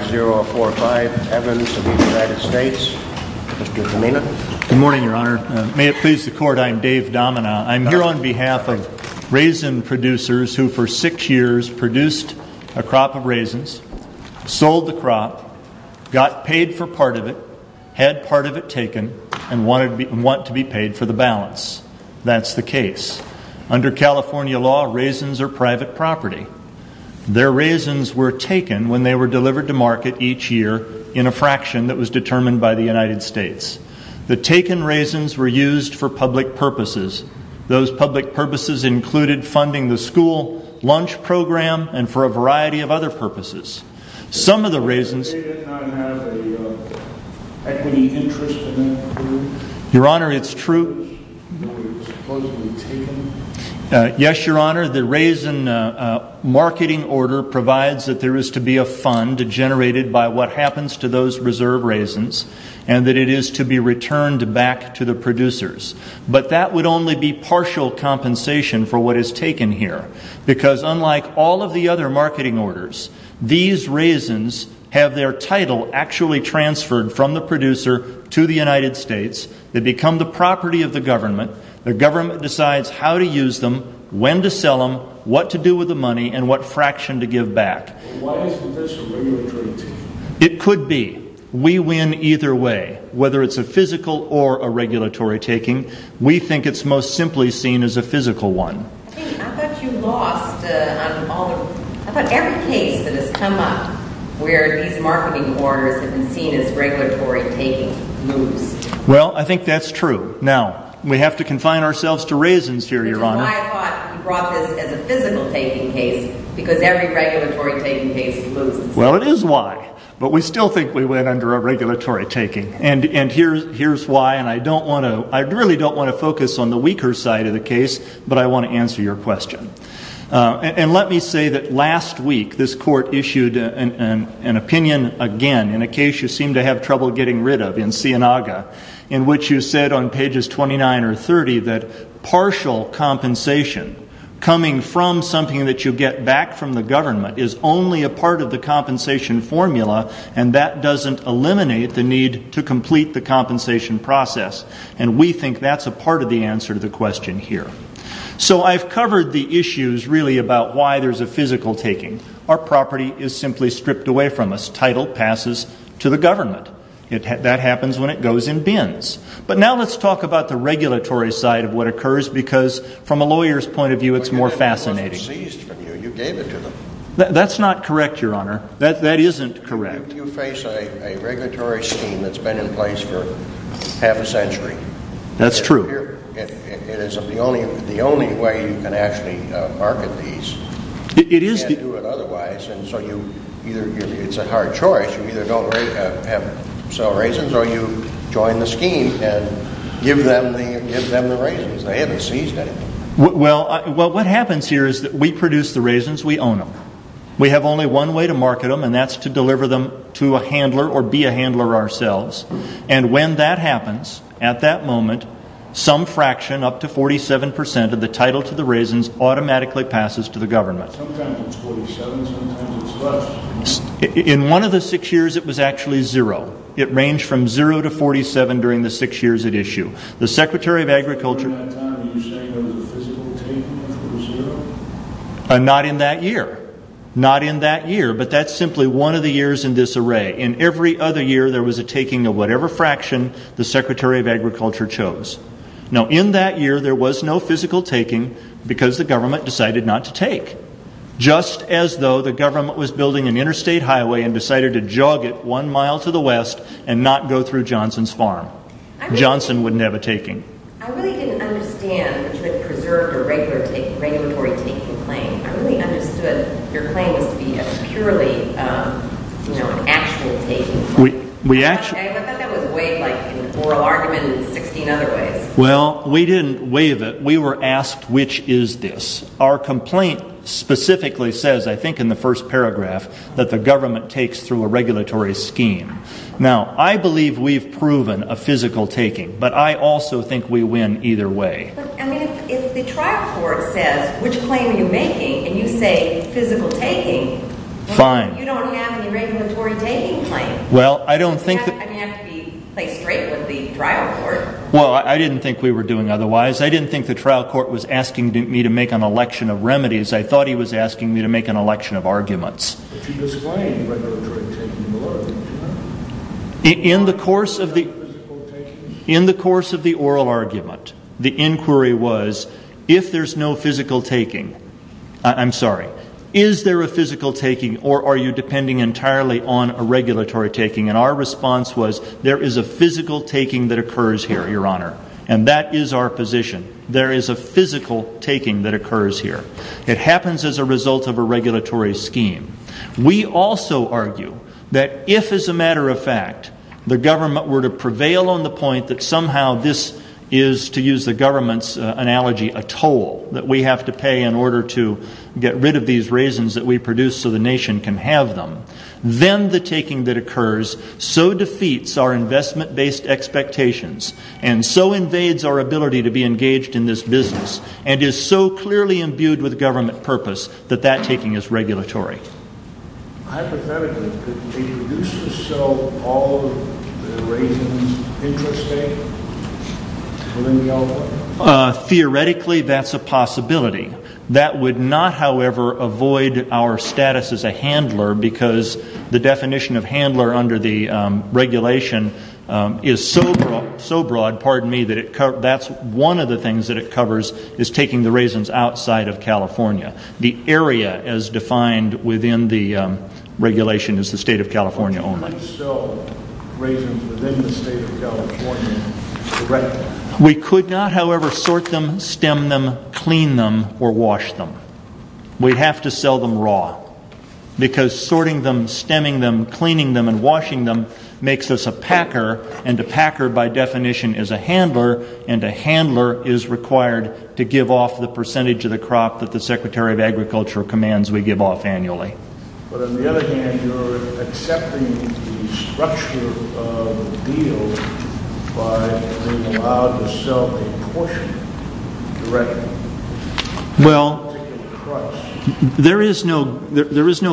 Good morning your honor. May it please the court, I am Dave Domina. I'm here on behalf of raisin producers who for six years produced a crop of raisins, sold the crop, got paid for part of it, had part of it taken, and want to be paid for the balance. That's the case. Under California law, raisins are private property. Their raisins were taken when they were delivered to market each year in a fraction that was determined by the United States. The taken raisins were used for public purposes. Those public purposes included funding the school lunch program and for a variety of other purposes. Some of the raisins- They did not have an equity interest in them? Your honor, it's true- They were supposedly taken? Yes, your honor. The raisin marketing order provides that there is to be a fund generated by what happens to those reserve raisins and that it is to be returned back to the producers. But that would only be partial compensation for what is taken here. Because unlike all of the other marketing orders, these raisins have their title actually transferred from the producer to the United States. They become the property of the government. The government decides how to use them, when to give back. Why isn't this a regulatory taking? It could be. We win either way. Whether it's a physical or a regulatory taking, we think it's most simply seen as a physical one. I thought you lost on all- I thought every case that has come up where these marketing orders have been seen as regulatory taking lose. Well, I think that's true. Now, we have to confine ourselves to raisins here, your honor. Which is why I thought you brought this as a physical taking case, because every regulatory taking case loses. Well, it is why. But we still think we win under a regulatory taking. And here's why, and I really don't want to focus on the weaker side of the case, but I want to answer your question. And let me say that last week, this court issued an opinion again in a case you seem to have trouble getting rid of in Sienaga, in which you said on pages 29 or 30 that partial compensation, coming from something that you get back from the government, is only a part of the compensation formula and that doesn't eliminate the need to complete the compensation process. And we think that's a part of the answer to the question here. So I've covered the issues really about why there's a physical taking. Our property is simply stripped away from us. Title passes to the government. That happens when it goes in bins. But now let's talk about the regulatory side of what occurs, because from a lawyer's point of view, it's more fascinating. But your property wasn't seized from you. You gave it to them. That's not correct, Your Honor. That isn't correct. You face a regulatory scheme that's been in place for half a century. That's true. It isn't the only way you can actually market these. You can't do it otherwise. And so it's a hard choice. You either don't have to sell raisins or you join the scheme and give them the raisins. They haven't seized anything. Well, what happens here is that we produce the raisins, we own them. We have only one way to market them, and that's to deliver them to a handler or be a handler ourselves. And when that happens, at that moment, some fraction, up to 47 percent of the title to the raisins automatically passes to the government. Sometimes it's 47, sometimes it's less. In one of the six years, it was actually zero. It ranged from zero to 47 during the six years at issue. The Secretary of Agriculture At that time, are you saying there was a physical taking of the zero? Not in that year. Not in that year. But that's simply one of the years in this array. In every other year, there was a taking of whatever fraction the Secretary of Agriculture chose. Now, in that year, there was no physical taking because the government decided not to take. Just as though the government was building an interstate highway and decided to jog it one mile to the west and not go through Johnson's Farm. Johnson would never take it. I really didn't understand that you had preserved a regulatory taking claim. I really understood your claim was to be a purely, you know, an actual taking. I thought that was weighed like an oral argument in 16 other ways. Well, we didn't weigh it. We were asked, which is this? Our complaint specifically says, I think in the first paragraph, that the government takes through a regulatory scheme. Now, I think we win either way. But, I mean, if the trial court says, which claim are you making? And you say, physical taking. Fine. You don't have any regulatory taking claim. Well, I don't think that... I mean, you have to be, play straight with the trial court. Well, I didn't think we were doing otherwise. I didn't think the trial court was asking me to make an election of remedies. I thought he was asking me to make an election of arguments. But you're displaying regulatory taking a lot of the time. In the course of the oral argument, the inquiry was, if there's no physical taking, I'm sorry, is there a physical taking or are you depending entirely on a regulatory taking? And our response was, there is a physical taking that occurs here, Your Honor. And that is our position. There is a physical taking that occurs here. It happens as a result of a regulatory scheme. We also argue that if, as a matter of fact, the government were to prevail on the point that somehow this is, to use the government's analogy, a toll that we have to pay in order to get rid of these raisins that we produce so the nation can have them, then the taking that occurs so defeats our investment-based expectations and so invades our ability to be engaged in this business and is so clearly imbued with government purpose that that taking is regulatory. Hypothetically, could they produce or sell all of the raisins intrastate? Theoretically, that's a possibility. That would not, however, avoid our status as a handler because the definition of handler under the regulation is so broad, pardon me, that it covers, that's one of the things that it covers is taking the raisins outside of what is defined within the regulation as the state of California only. Could you sell raisins within the state of California directly? We could not, however, sort them, stem them, clean them, or wash them. We'd have to sell them raw because sorting them, stemming them, cleaning them, and washing them makes us a packer, and a packer, by definition, is a handler, and a handler is required to give off the percentage of the crop that the Secretary of Agriculture commands we give off annually. But on the other hand, you're accepting the structure of the deal by being allowed to sell a portion directly. Well, there is no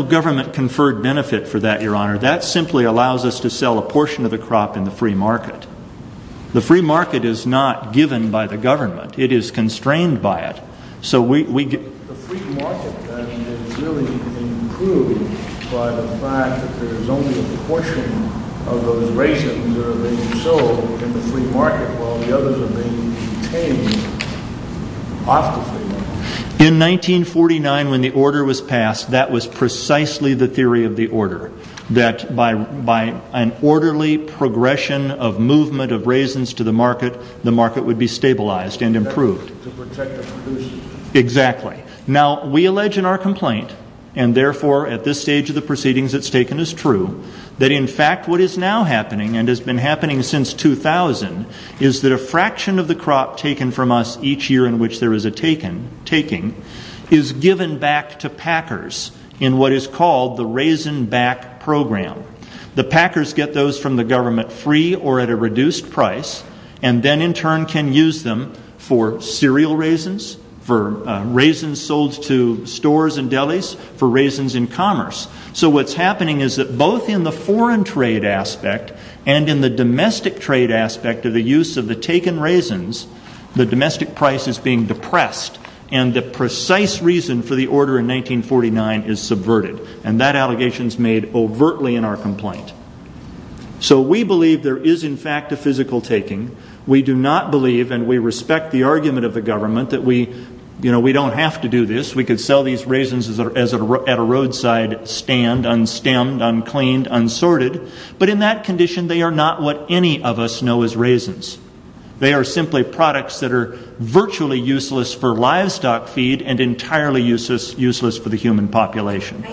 government-conferred benefit for that, Your Honor. That simply allows us to sell a portion of the crop in the free market. The free market is not given by the state. The free market, then, is really being improved by the fact that there is only a portion of those raisins that are being sold in the free market, while the others are being obtained off the free market. In 1949, when the order was passed, that was precisely the theory of the order, that by an orderly progression of movement of raisins to the market, the market would be stabilized and improved. Exactly. Now, we allege in our complaint, and therefore at this stage of the proceedings it's taken as true, that in fact what is now happening, and has been happening since 2000, is that a fraction of the crop taken from us each year in which there is a taking is given back to packers in what is called the Raisin Back Program. The packers get those from the government free or at a reduced price, and then in turn can use them for cereal raisins, for raisins sold to stores and delis, for raisins in commerce. So what's happening is that both in the foreign trade aspect and in the domestic trade aspect of the use of the taken raisins, the domestic price is being depressed, and the precise reason for the order in 1949 is subverted. And that allegation is made overtly in our complaint. So we believe there is in fact a physical taking. We do not believe, and we respect the argument of the government that we, you know, we don't have to do this, we could sell these raisins at a roadside stand, unstemmed, uncleaned, unsorted, but in that condition they are not what any of us know as raisins. They are simply products that are virtually useless for livestock feed and entirely useless for the human population.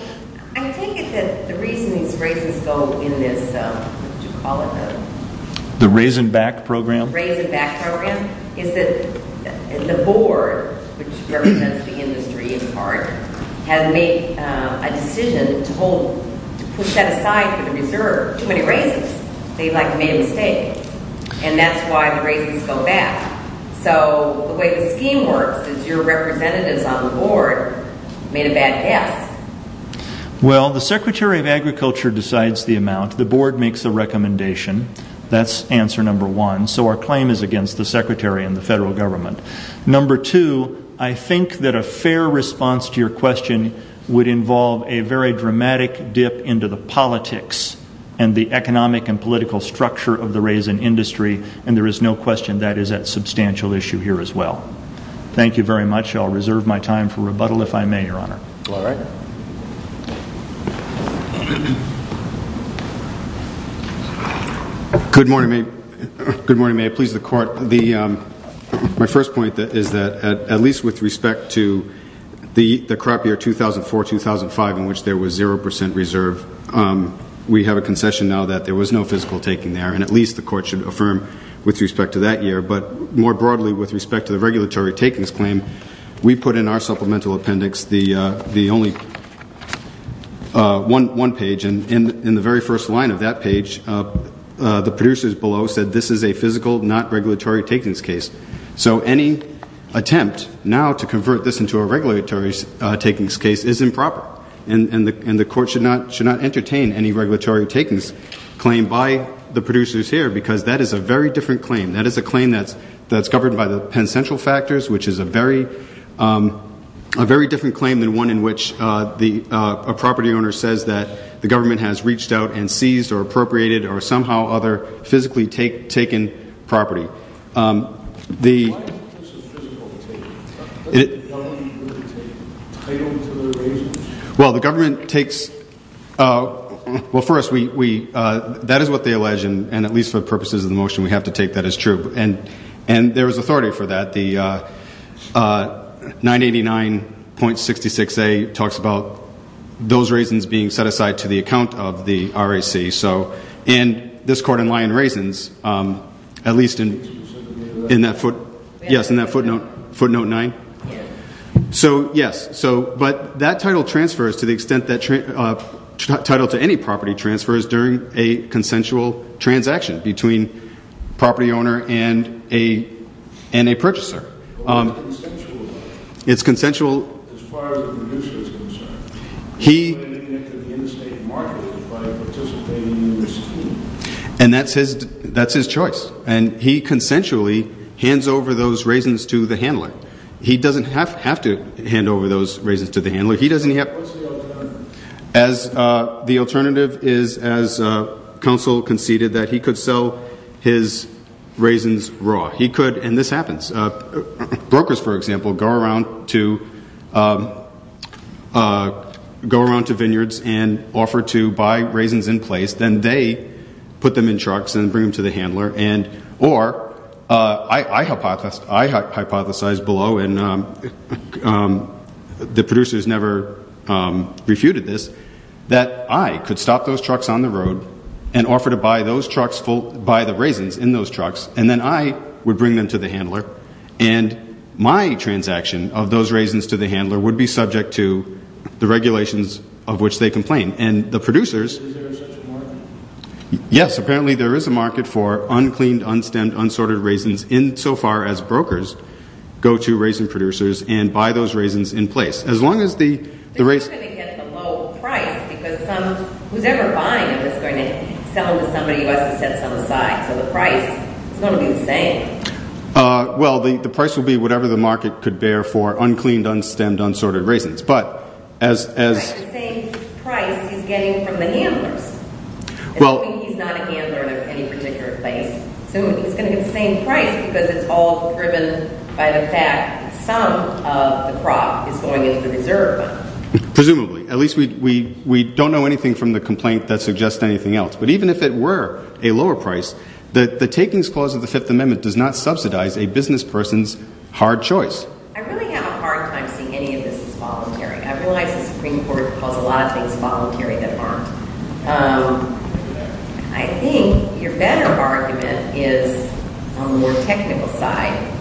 I take it that the reason these raisins go in this, what do you call it? The Raisin Back Program? Raisin Back Program, is that the board, which represents the industry in part, has made a decision to put that aside for the reserve. Too many raisins. They like made a mistake. And that's why the raisins go back. So the way the scheme works is your representatives on the board made a bad guess. Well, the Secretary of Agriculture decides the amount. The board makes a recommendation. That's answer number one. So our claim is against the Secretary and the federal government. Number two, I think that a fair response to your question would involve a very dramatic dip into the politics and the economic and political structure of the raisin industry. And there is no question that is a substantial issue here as well. Thank you very much. I'll reserve my time for rebuttal if I may, Your Honor. All right. Good morning. Good morning. May it please the Court. My first point is that at least with respect to the crop year 2004-2005 in which there was zero percent reserve, we have a concession now that there was no physical taking there. And at least the Court should affirm with respect to that year. But more broadly with respect to the regulatory takings claim, we put in our supplemental appendix the only one page, and in the very first line of that page, the producers below said this is a physical, not regulatory takings case. So any attempt now to convert this into a regulatory takings case is improper. And the Court should not entertain any regulatory takings claim by the producers here because that is a very different claim. That is a claim that's covered by the Penn Central factors, which is a very different claim than one in which a property owner says that the government has reached out and seized or appropriated or somehow other physically taken property. Well, the government takes – well, first, that is what they allege, and at least for true. And there is authority for that. The 989.66a talks about those raisins being set aside to the account of the RAC. And this court in Lyon Raisins, at least in that footnote 9. So, yes. But that title transfers to the extent that – title to any property transfers during a consensual transaction between property owner and a purchaser. It's consensual. And that's his choice. And he consensually hands over those raisins to the handler. He doesn't have to hand over those raisins to the handler. What's the alternative? The alternative is, as counsel conceded, that he could sell his raisins raw. He could – and this happens. Brokers, for example, go around to vineyards and offer to buy raisins in place. Then they put them in trucks and bring them to the handler. Or, I hypothesized below, and the producers never refuted this, that I could stop those trucks on the road and offer to buy the raisins in those trucks, and then I would bring them to the handler. And my transaction of those raisins to the handler would be subject to the regulations of which they complain. And the producers – Is there such a market? Yes. Apparently there is a market for uncleaned, unstemmed, unsorted raisins in – so far as brokers go to raisin producers and buy those raisins in place. As long as the raisin – But who's going to get the low price? Because some – who's ever buying it is going to sell it to somebody who has to set some aside. So the price is going to be the same. Well, the price will be whatever the market could bear for uncleaned, unstemmed, unsorted raisins. But as – But the same price he's getting from the handlers. Well – He's not a handler in any particular place, so he's going to get the same price because it's all driven by the fact that some of the crop is going into the reserve fund. Presumably. At least we don't know anything from the complaint that suggests anything else. But even if it were a lower price, the takings clause of the Fifth Amendment does not subsidize a business person's hard choice. I really have a hard time seeing any of this as voluntary. I realize the Supreme Court calls a lot of things voluntary that aren't. I think your better argument is on the more technical side.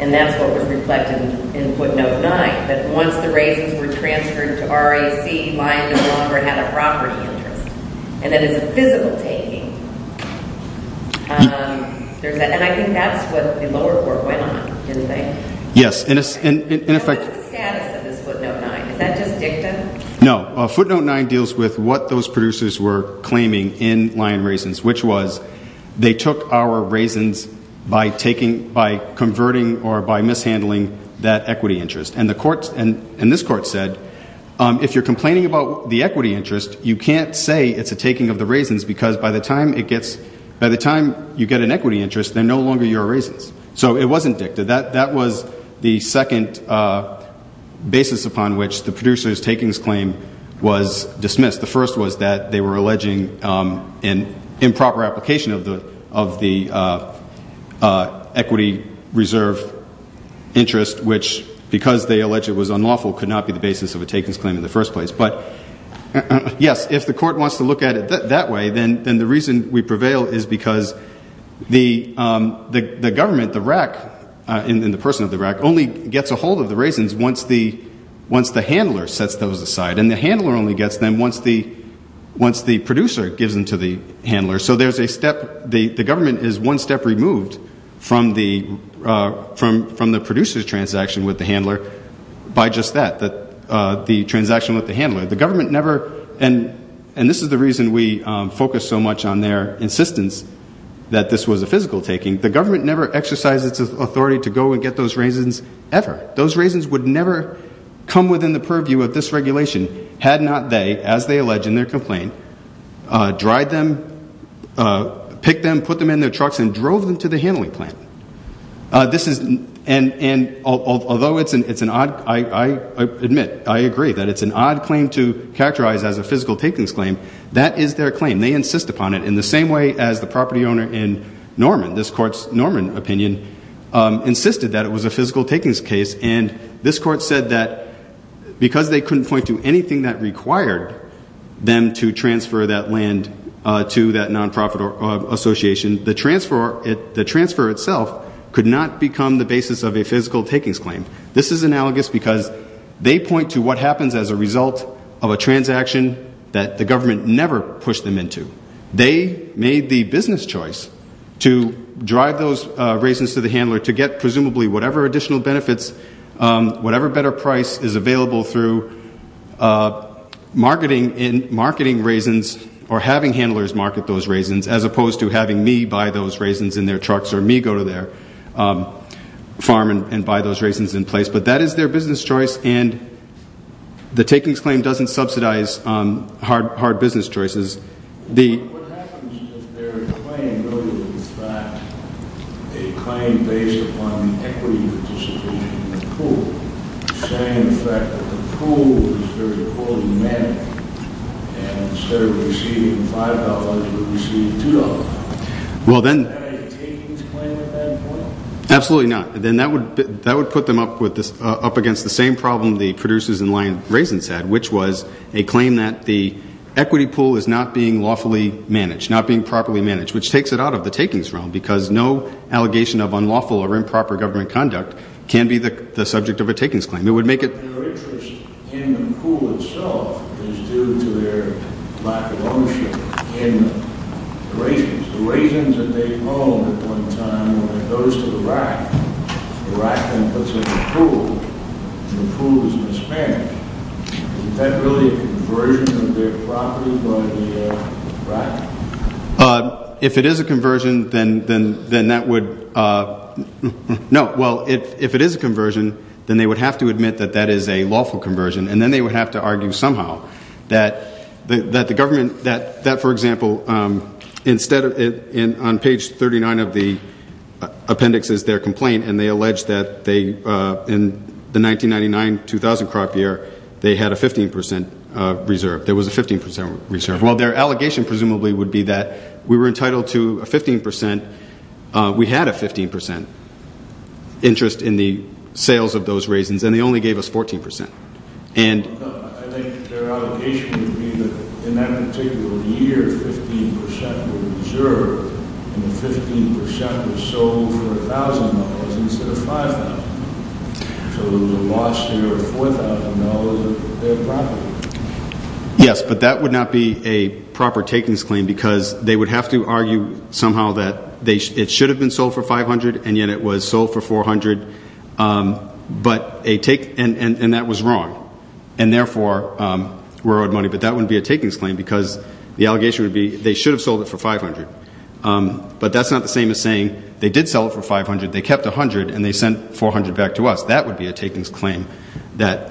And that's what was reflected in footnote 9. That once the raisins were transferred to RAC, buying no longer had a property interest. And that it's a physical taking. And I think that's what the lower court went on, didn't they? Yes. And in effect – What's the status of this footnote 9? Is that just dicta? No. Footnote 9 deals with what those producers were claiming in Lion Raisins. Which was, they took our raisins by converting or by mishandling that equity interest. And this court said, if you're complaining about the equity interest, you can't say it's a taking of the raisins because by the time you get an equity interest, they're no longer your raisins. So it wasn't dicta. That was the second basis upon which the producer's takings claim was dismissed. The first was that they were alleging an improper application of the equity reserve interest. Which, because they alleged it was unlawful, could not be the basis of a takings claim in the first place. But yes, if the court wants to look at it that way, then the reason we prevail is because the government, the RAC, and the person of the RAC, only gets a hold of the raisins once the handler sets those aside. And the handler only gets them once the producer gives them to the handler. So there's a step – the government is one step removed from the producer's transaction with the handler by just that, the transaction with the handler. The government never – and this is the reason we focus so much on their insistence that this was a physical taking – the government never exercised its authority to go and get those raisins ever. Those raisins would never come within the purview of this regulation had not they, as they allege in their complaint, dried them, picked them, put them in their trucks, and drove them to the handling plant. This is – and although it's an odd – I admit, I agree that it's an odd claim to characterize as a physical takings claim, that is their claim. They insist upon it in the same way as the property owner in Norman – this court's Norman opinion – insisted that it was a physical takings case. And this court said that because they couldn't point to anything that required them to transfer that land to that nonprofit association, the transfer itself could not become the basis of a physical takings claim. This is analogous because they point to what happens as a result of a transaction that the government never pushed them into. They made the business choice to drive those raisins to the handler to get presumably whatever additional benefits, whatever better price is available through marketing raisins or having handlers market those raisins as opposed to having me buy those raisins in their trucks or me go to their farm and buy those raisins in place. But that is their business choice and the takings claim doesn't subsidize hard business choices. What happens if their claim really was in fact a claim based upon the equity participation in the pool, saying the fact that the pool was very poorly managed and instead of receiving $5, they were receiving $2? Is that a takings claim at that point? Absolutely not. That would put them up against the same problem the producers in Lyon Raisins had, which was a claim that the equity pool is not being lawfully managed, not being properly managed, which takes it out of the takings realm because no allegation of unlawful or improper government conduct can be the subject of a takings claim. Their interest in the pool itself is due to their lack of ownership in the raisins. The raisins that they own at one time, when it goes to the rack, the rack then puts it into the pool, the pool is disbanded. Is that really a conversion of their property from the rack? If it is a conversion, then that would, no, well if it is a conversion, then they would have to admit that that is a lawful conversion and then they would have to argue somehow that the government, that for example, instead of, on page 39 of the appendix is their complaint and they allege that in the 1999-2000 crop year, they had a 15% reserve, there was a 15% reserve. Well, their allegation presumably would be that we were entitled to a 15%, we had a 15% interest in the sales of those raisins and they only gave us 14%. I think their allegation would be that in that particular year, 15% were reserved and 15% were sold for $1,000 instead of $5,000. So it was a lost year of $4,000 of their property. Yes, but that would not be a proper takings claim because they would have to argue somehow that it should have been sold for $500 and yet it was sold for $400 and that was wrong and therefore, we're owed money, but that wouldn't be a takings claim because the allegation would be they should have sold it for $500, but that's not the same as saying they did sell it for $500, they kept $100 and they sent $400 back to us. That would be a takings claim, that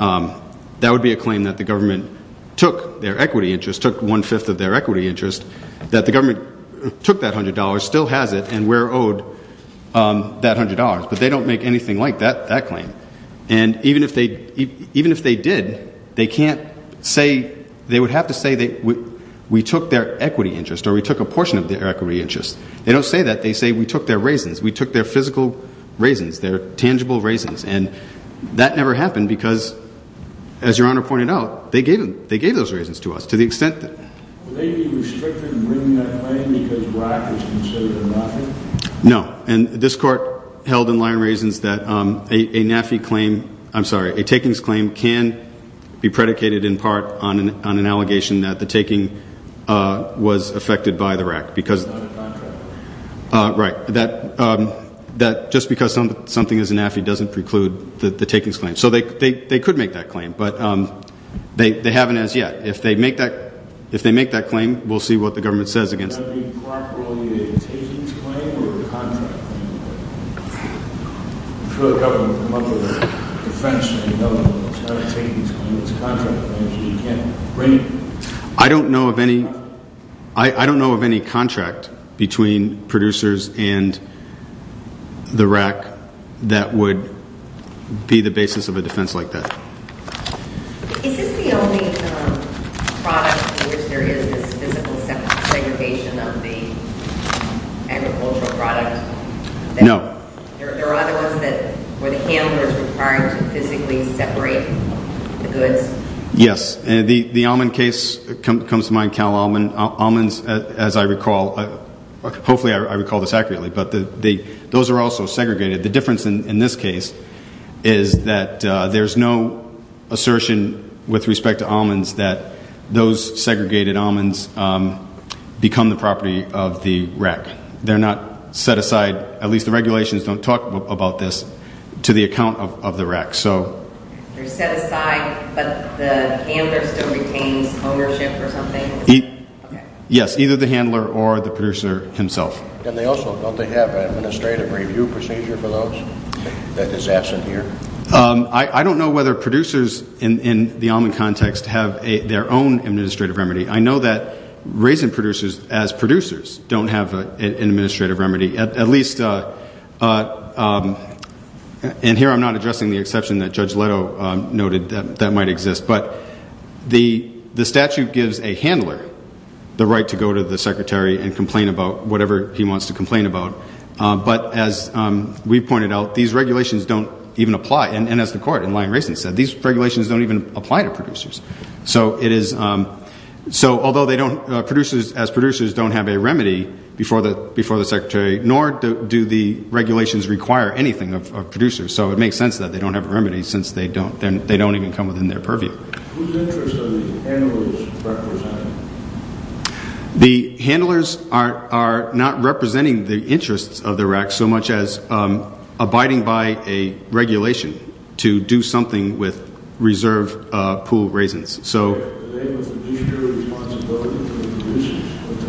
would be a claim that the government took their equity interest, took one-fifth of their equity interest, that the government took that $100, still has it and we're owed that $100, but they don't make anything like that claim. And even if they did, they can't say, they would have to say we took their equity interest or we took a portion of their equity interest. They don't say that, they say we took their raisins, we took their physical raisins, their tangible raisins and that never happened because, as Your Honor pointed out, they gave those raisins to us to the extent that... Would they be restricted in bringing that claim because BRAC was considered a NAFI? No, and this court held in Lyon Raisins that a NAFI claim, I'm sorry, a takings claim can be predicated in part on an allegation that the taking was affected by the RAC because... It's not a contract. Right, that just because something is a NAFI doesn't preclude the takings claim. So they could make that claim, but they haven't as yet. If they make that claim, we'll see what the government says against it. Is BRAC really a takings claim or a contract claim? I don't know of any contract between producers and the RAC that would be the basis of a defense like that. Is this the only product in which there is this physical segregation of the agricultural product? No. There are other ones where the handler is required to physically separate the goods? Yes, the almond case comes to mind, cow almonds, as I recall. Hopefully I recall this accurately, but those are also segregated. The difference in this case is that there's no assertion with respect to almonds that those segregated almonds become the property of the RAC. They're not set aside, at least the regulations don't talk about this, to the account of the RAC. They're set aside, but the handler still retains ownership or something? Yes, either the handler or the producer himself. Don't they have an administrative review procedure for those that is absent here? I don't know whether producers in the almond context have their own administrative remedy. I know that raisin producers, as producers, don't have an administrative remedy. At least, and here I'm not addressing the exception that Judge Leto noted that might exist, but the statute gives a handler the right to go to the secretary and complain about whatever he wants to complain about. But as we pointed out, these regulations don't even apply. And as the court in Lyon Raisin said, these regulations don't even apply to producers. So although producers, as producers, don't have a remedy before the secretary, nor do the regulations require anything of producers. So it makes sense that they don't have a remedy, since they don't even come within their purview. Whose interests are the handlers representing? The handlers are not representing the interests of the RAC so much as abiding by a regulation to do something with reserve pool raisins. Are they with the producer responsibility to the producers or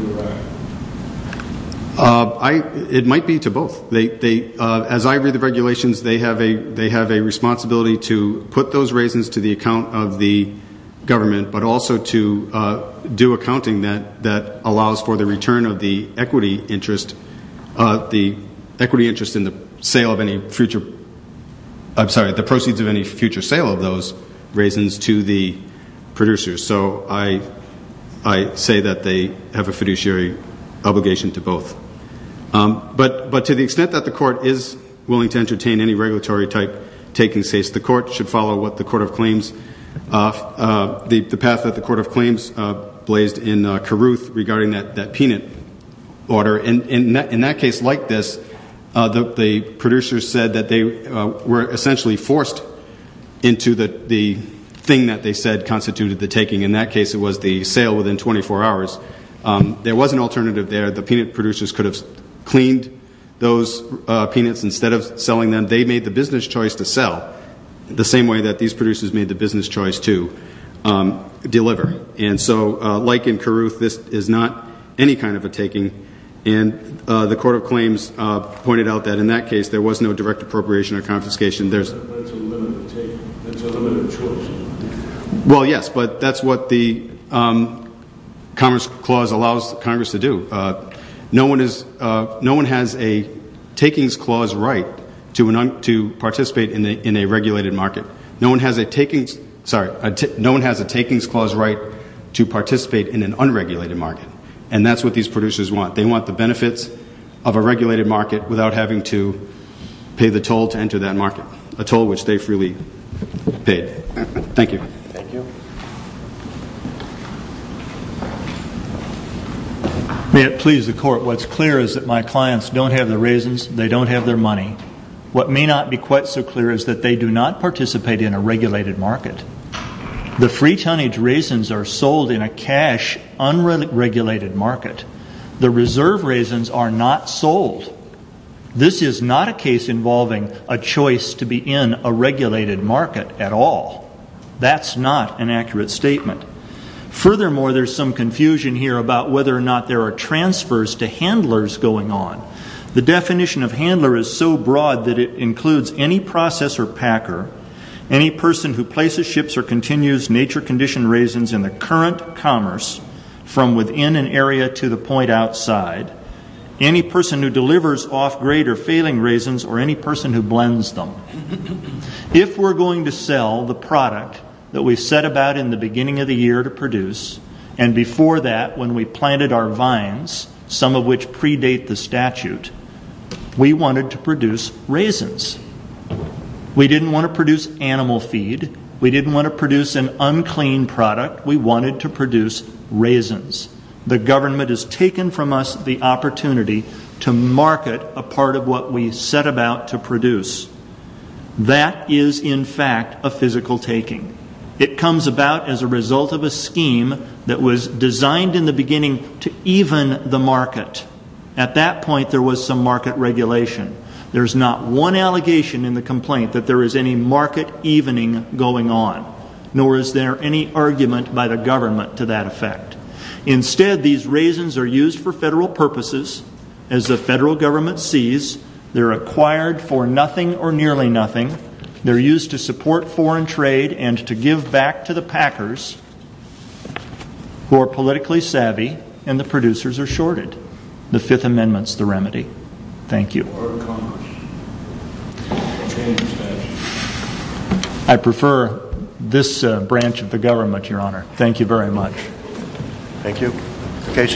to the RAC? It might be to both. As I read the regulations, they have a responsibility to put those raisins to the account of the government, but also to do accounting that allows for the return of the equity interest, the equity interest in the sale of any future, I'm sorry, the proceeds of any future sale of those raisins to the producers. So I say that they have a fiduciary obligation to both. But to the extent that the court is willing to entertain any regulatory-type taking, the court should follow the path that the court of claims blazed in Carruth regarding that peanut order. In that case like this, the producers said that they were essentially forced into the thing that they said constituted the taking. In that case, it was the sale within 24 hours. There was an alternative there. The peanut producers could have cleaned those peanuts instead of selling them. They made the business choice to sell the same way that these producers made the business choice to deliver. And so like in Carruth, this is not any kind of a taking. And the court of claims pointed out that in that case, there was no direct appropriation or confiscation. But it's a limited take. It's a limited choice. Well, yes, but that's what the Commerce Clause allows Congress to do. No one has a takings clause right to participate in a regulated market. No one has a takings clause right to participate in an unregulated market. And that's what these producers want. They want the benefits of a regulated market without having to pay the toll to enter that market. A toll which they freely paid. Thank you. May it please the court. What's clear is that my clients don't have the raisins. They don't have their money. What may not be quite so clear is that they do not participate in a regulated market. The free tonnage raisins are sold in a cash, unregulated market. The reserve raisins are not sold. This is not a case involving a choice to be in a regulated market at all. That's not an accurate statement. Furthermore, there's some confusion here about whether or not there are transfers to handlers going on. The definition of handler is so broad that it includes any processor packer, any person who places ships or continues nature condition raisins in the current commerce from within an area to the point outside, any person who delivers off-grade or failing raisins or any person who blends them. If we're going to sell the product that we set about in the beginning of the year to produce and before that when we planted our vines, some of which predate the statute, we wanted to produce raisins. We didn't want to produce animal feed. We didn't want to produce an unclean product. We wanted to produce raisins. The government has taken from us the opportunity to market a part of what we set about to produce. That is, in fact, a physical taking. It comes about as a result of a scheme that was designed in the beginning to even the market. At that point, there was some market regulation. There's not one allegation in the complaint that there is any market evening going on, nor is there any argument by the government to that effect. Instead, these raisins are used for federal purposes. As the federal government sees, they're acquired for nothing or nearly nothing. They're used to support foreign trade and to give back to the packers who are politically savvy and the producers are shorted. The Fifth Amendment's the remedy. Thank you. I prefer this branch of the government, Your Honor. Thank you very much. Thank you.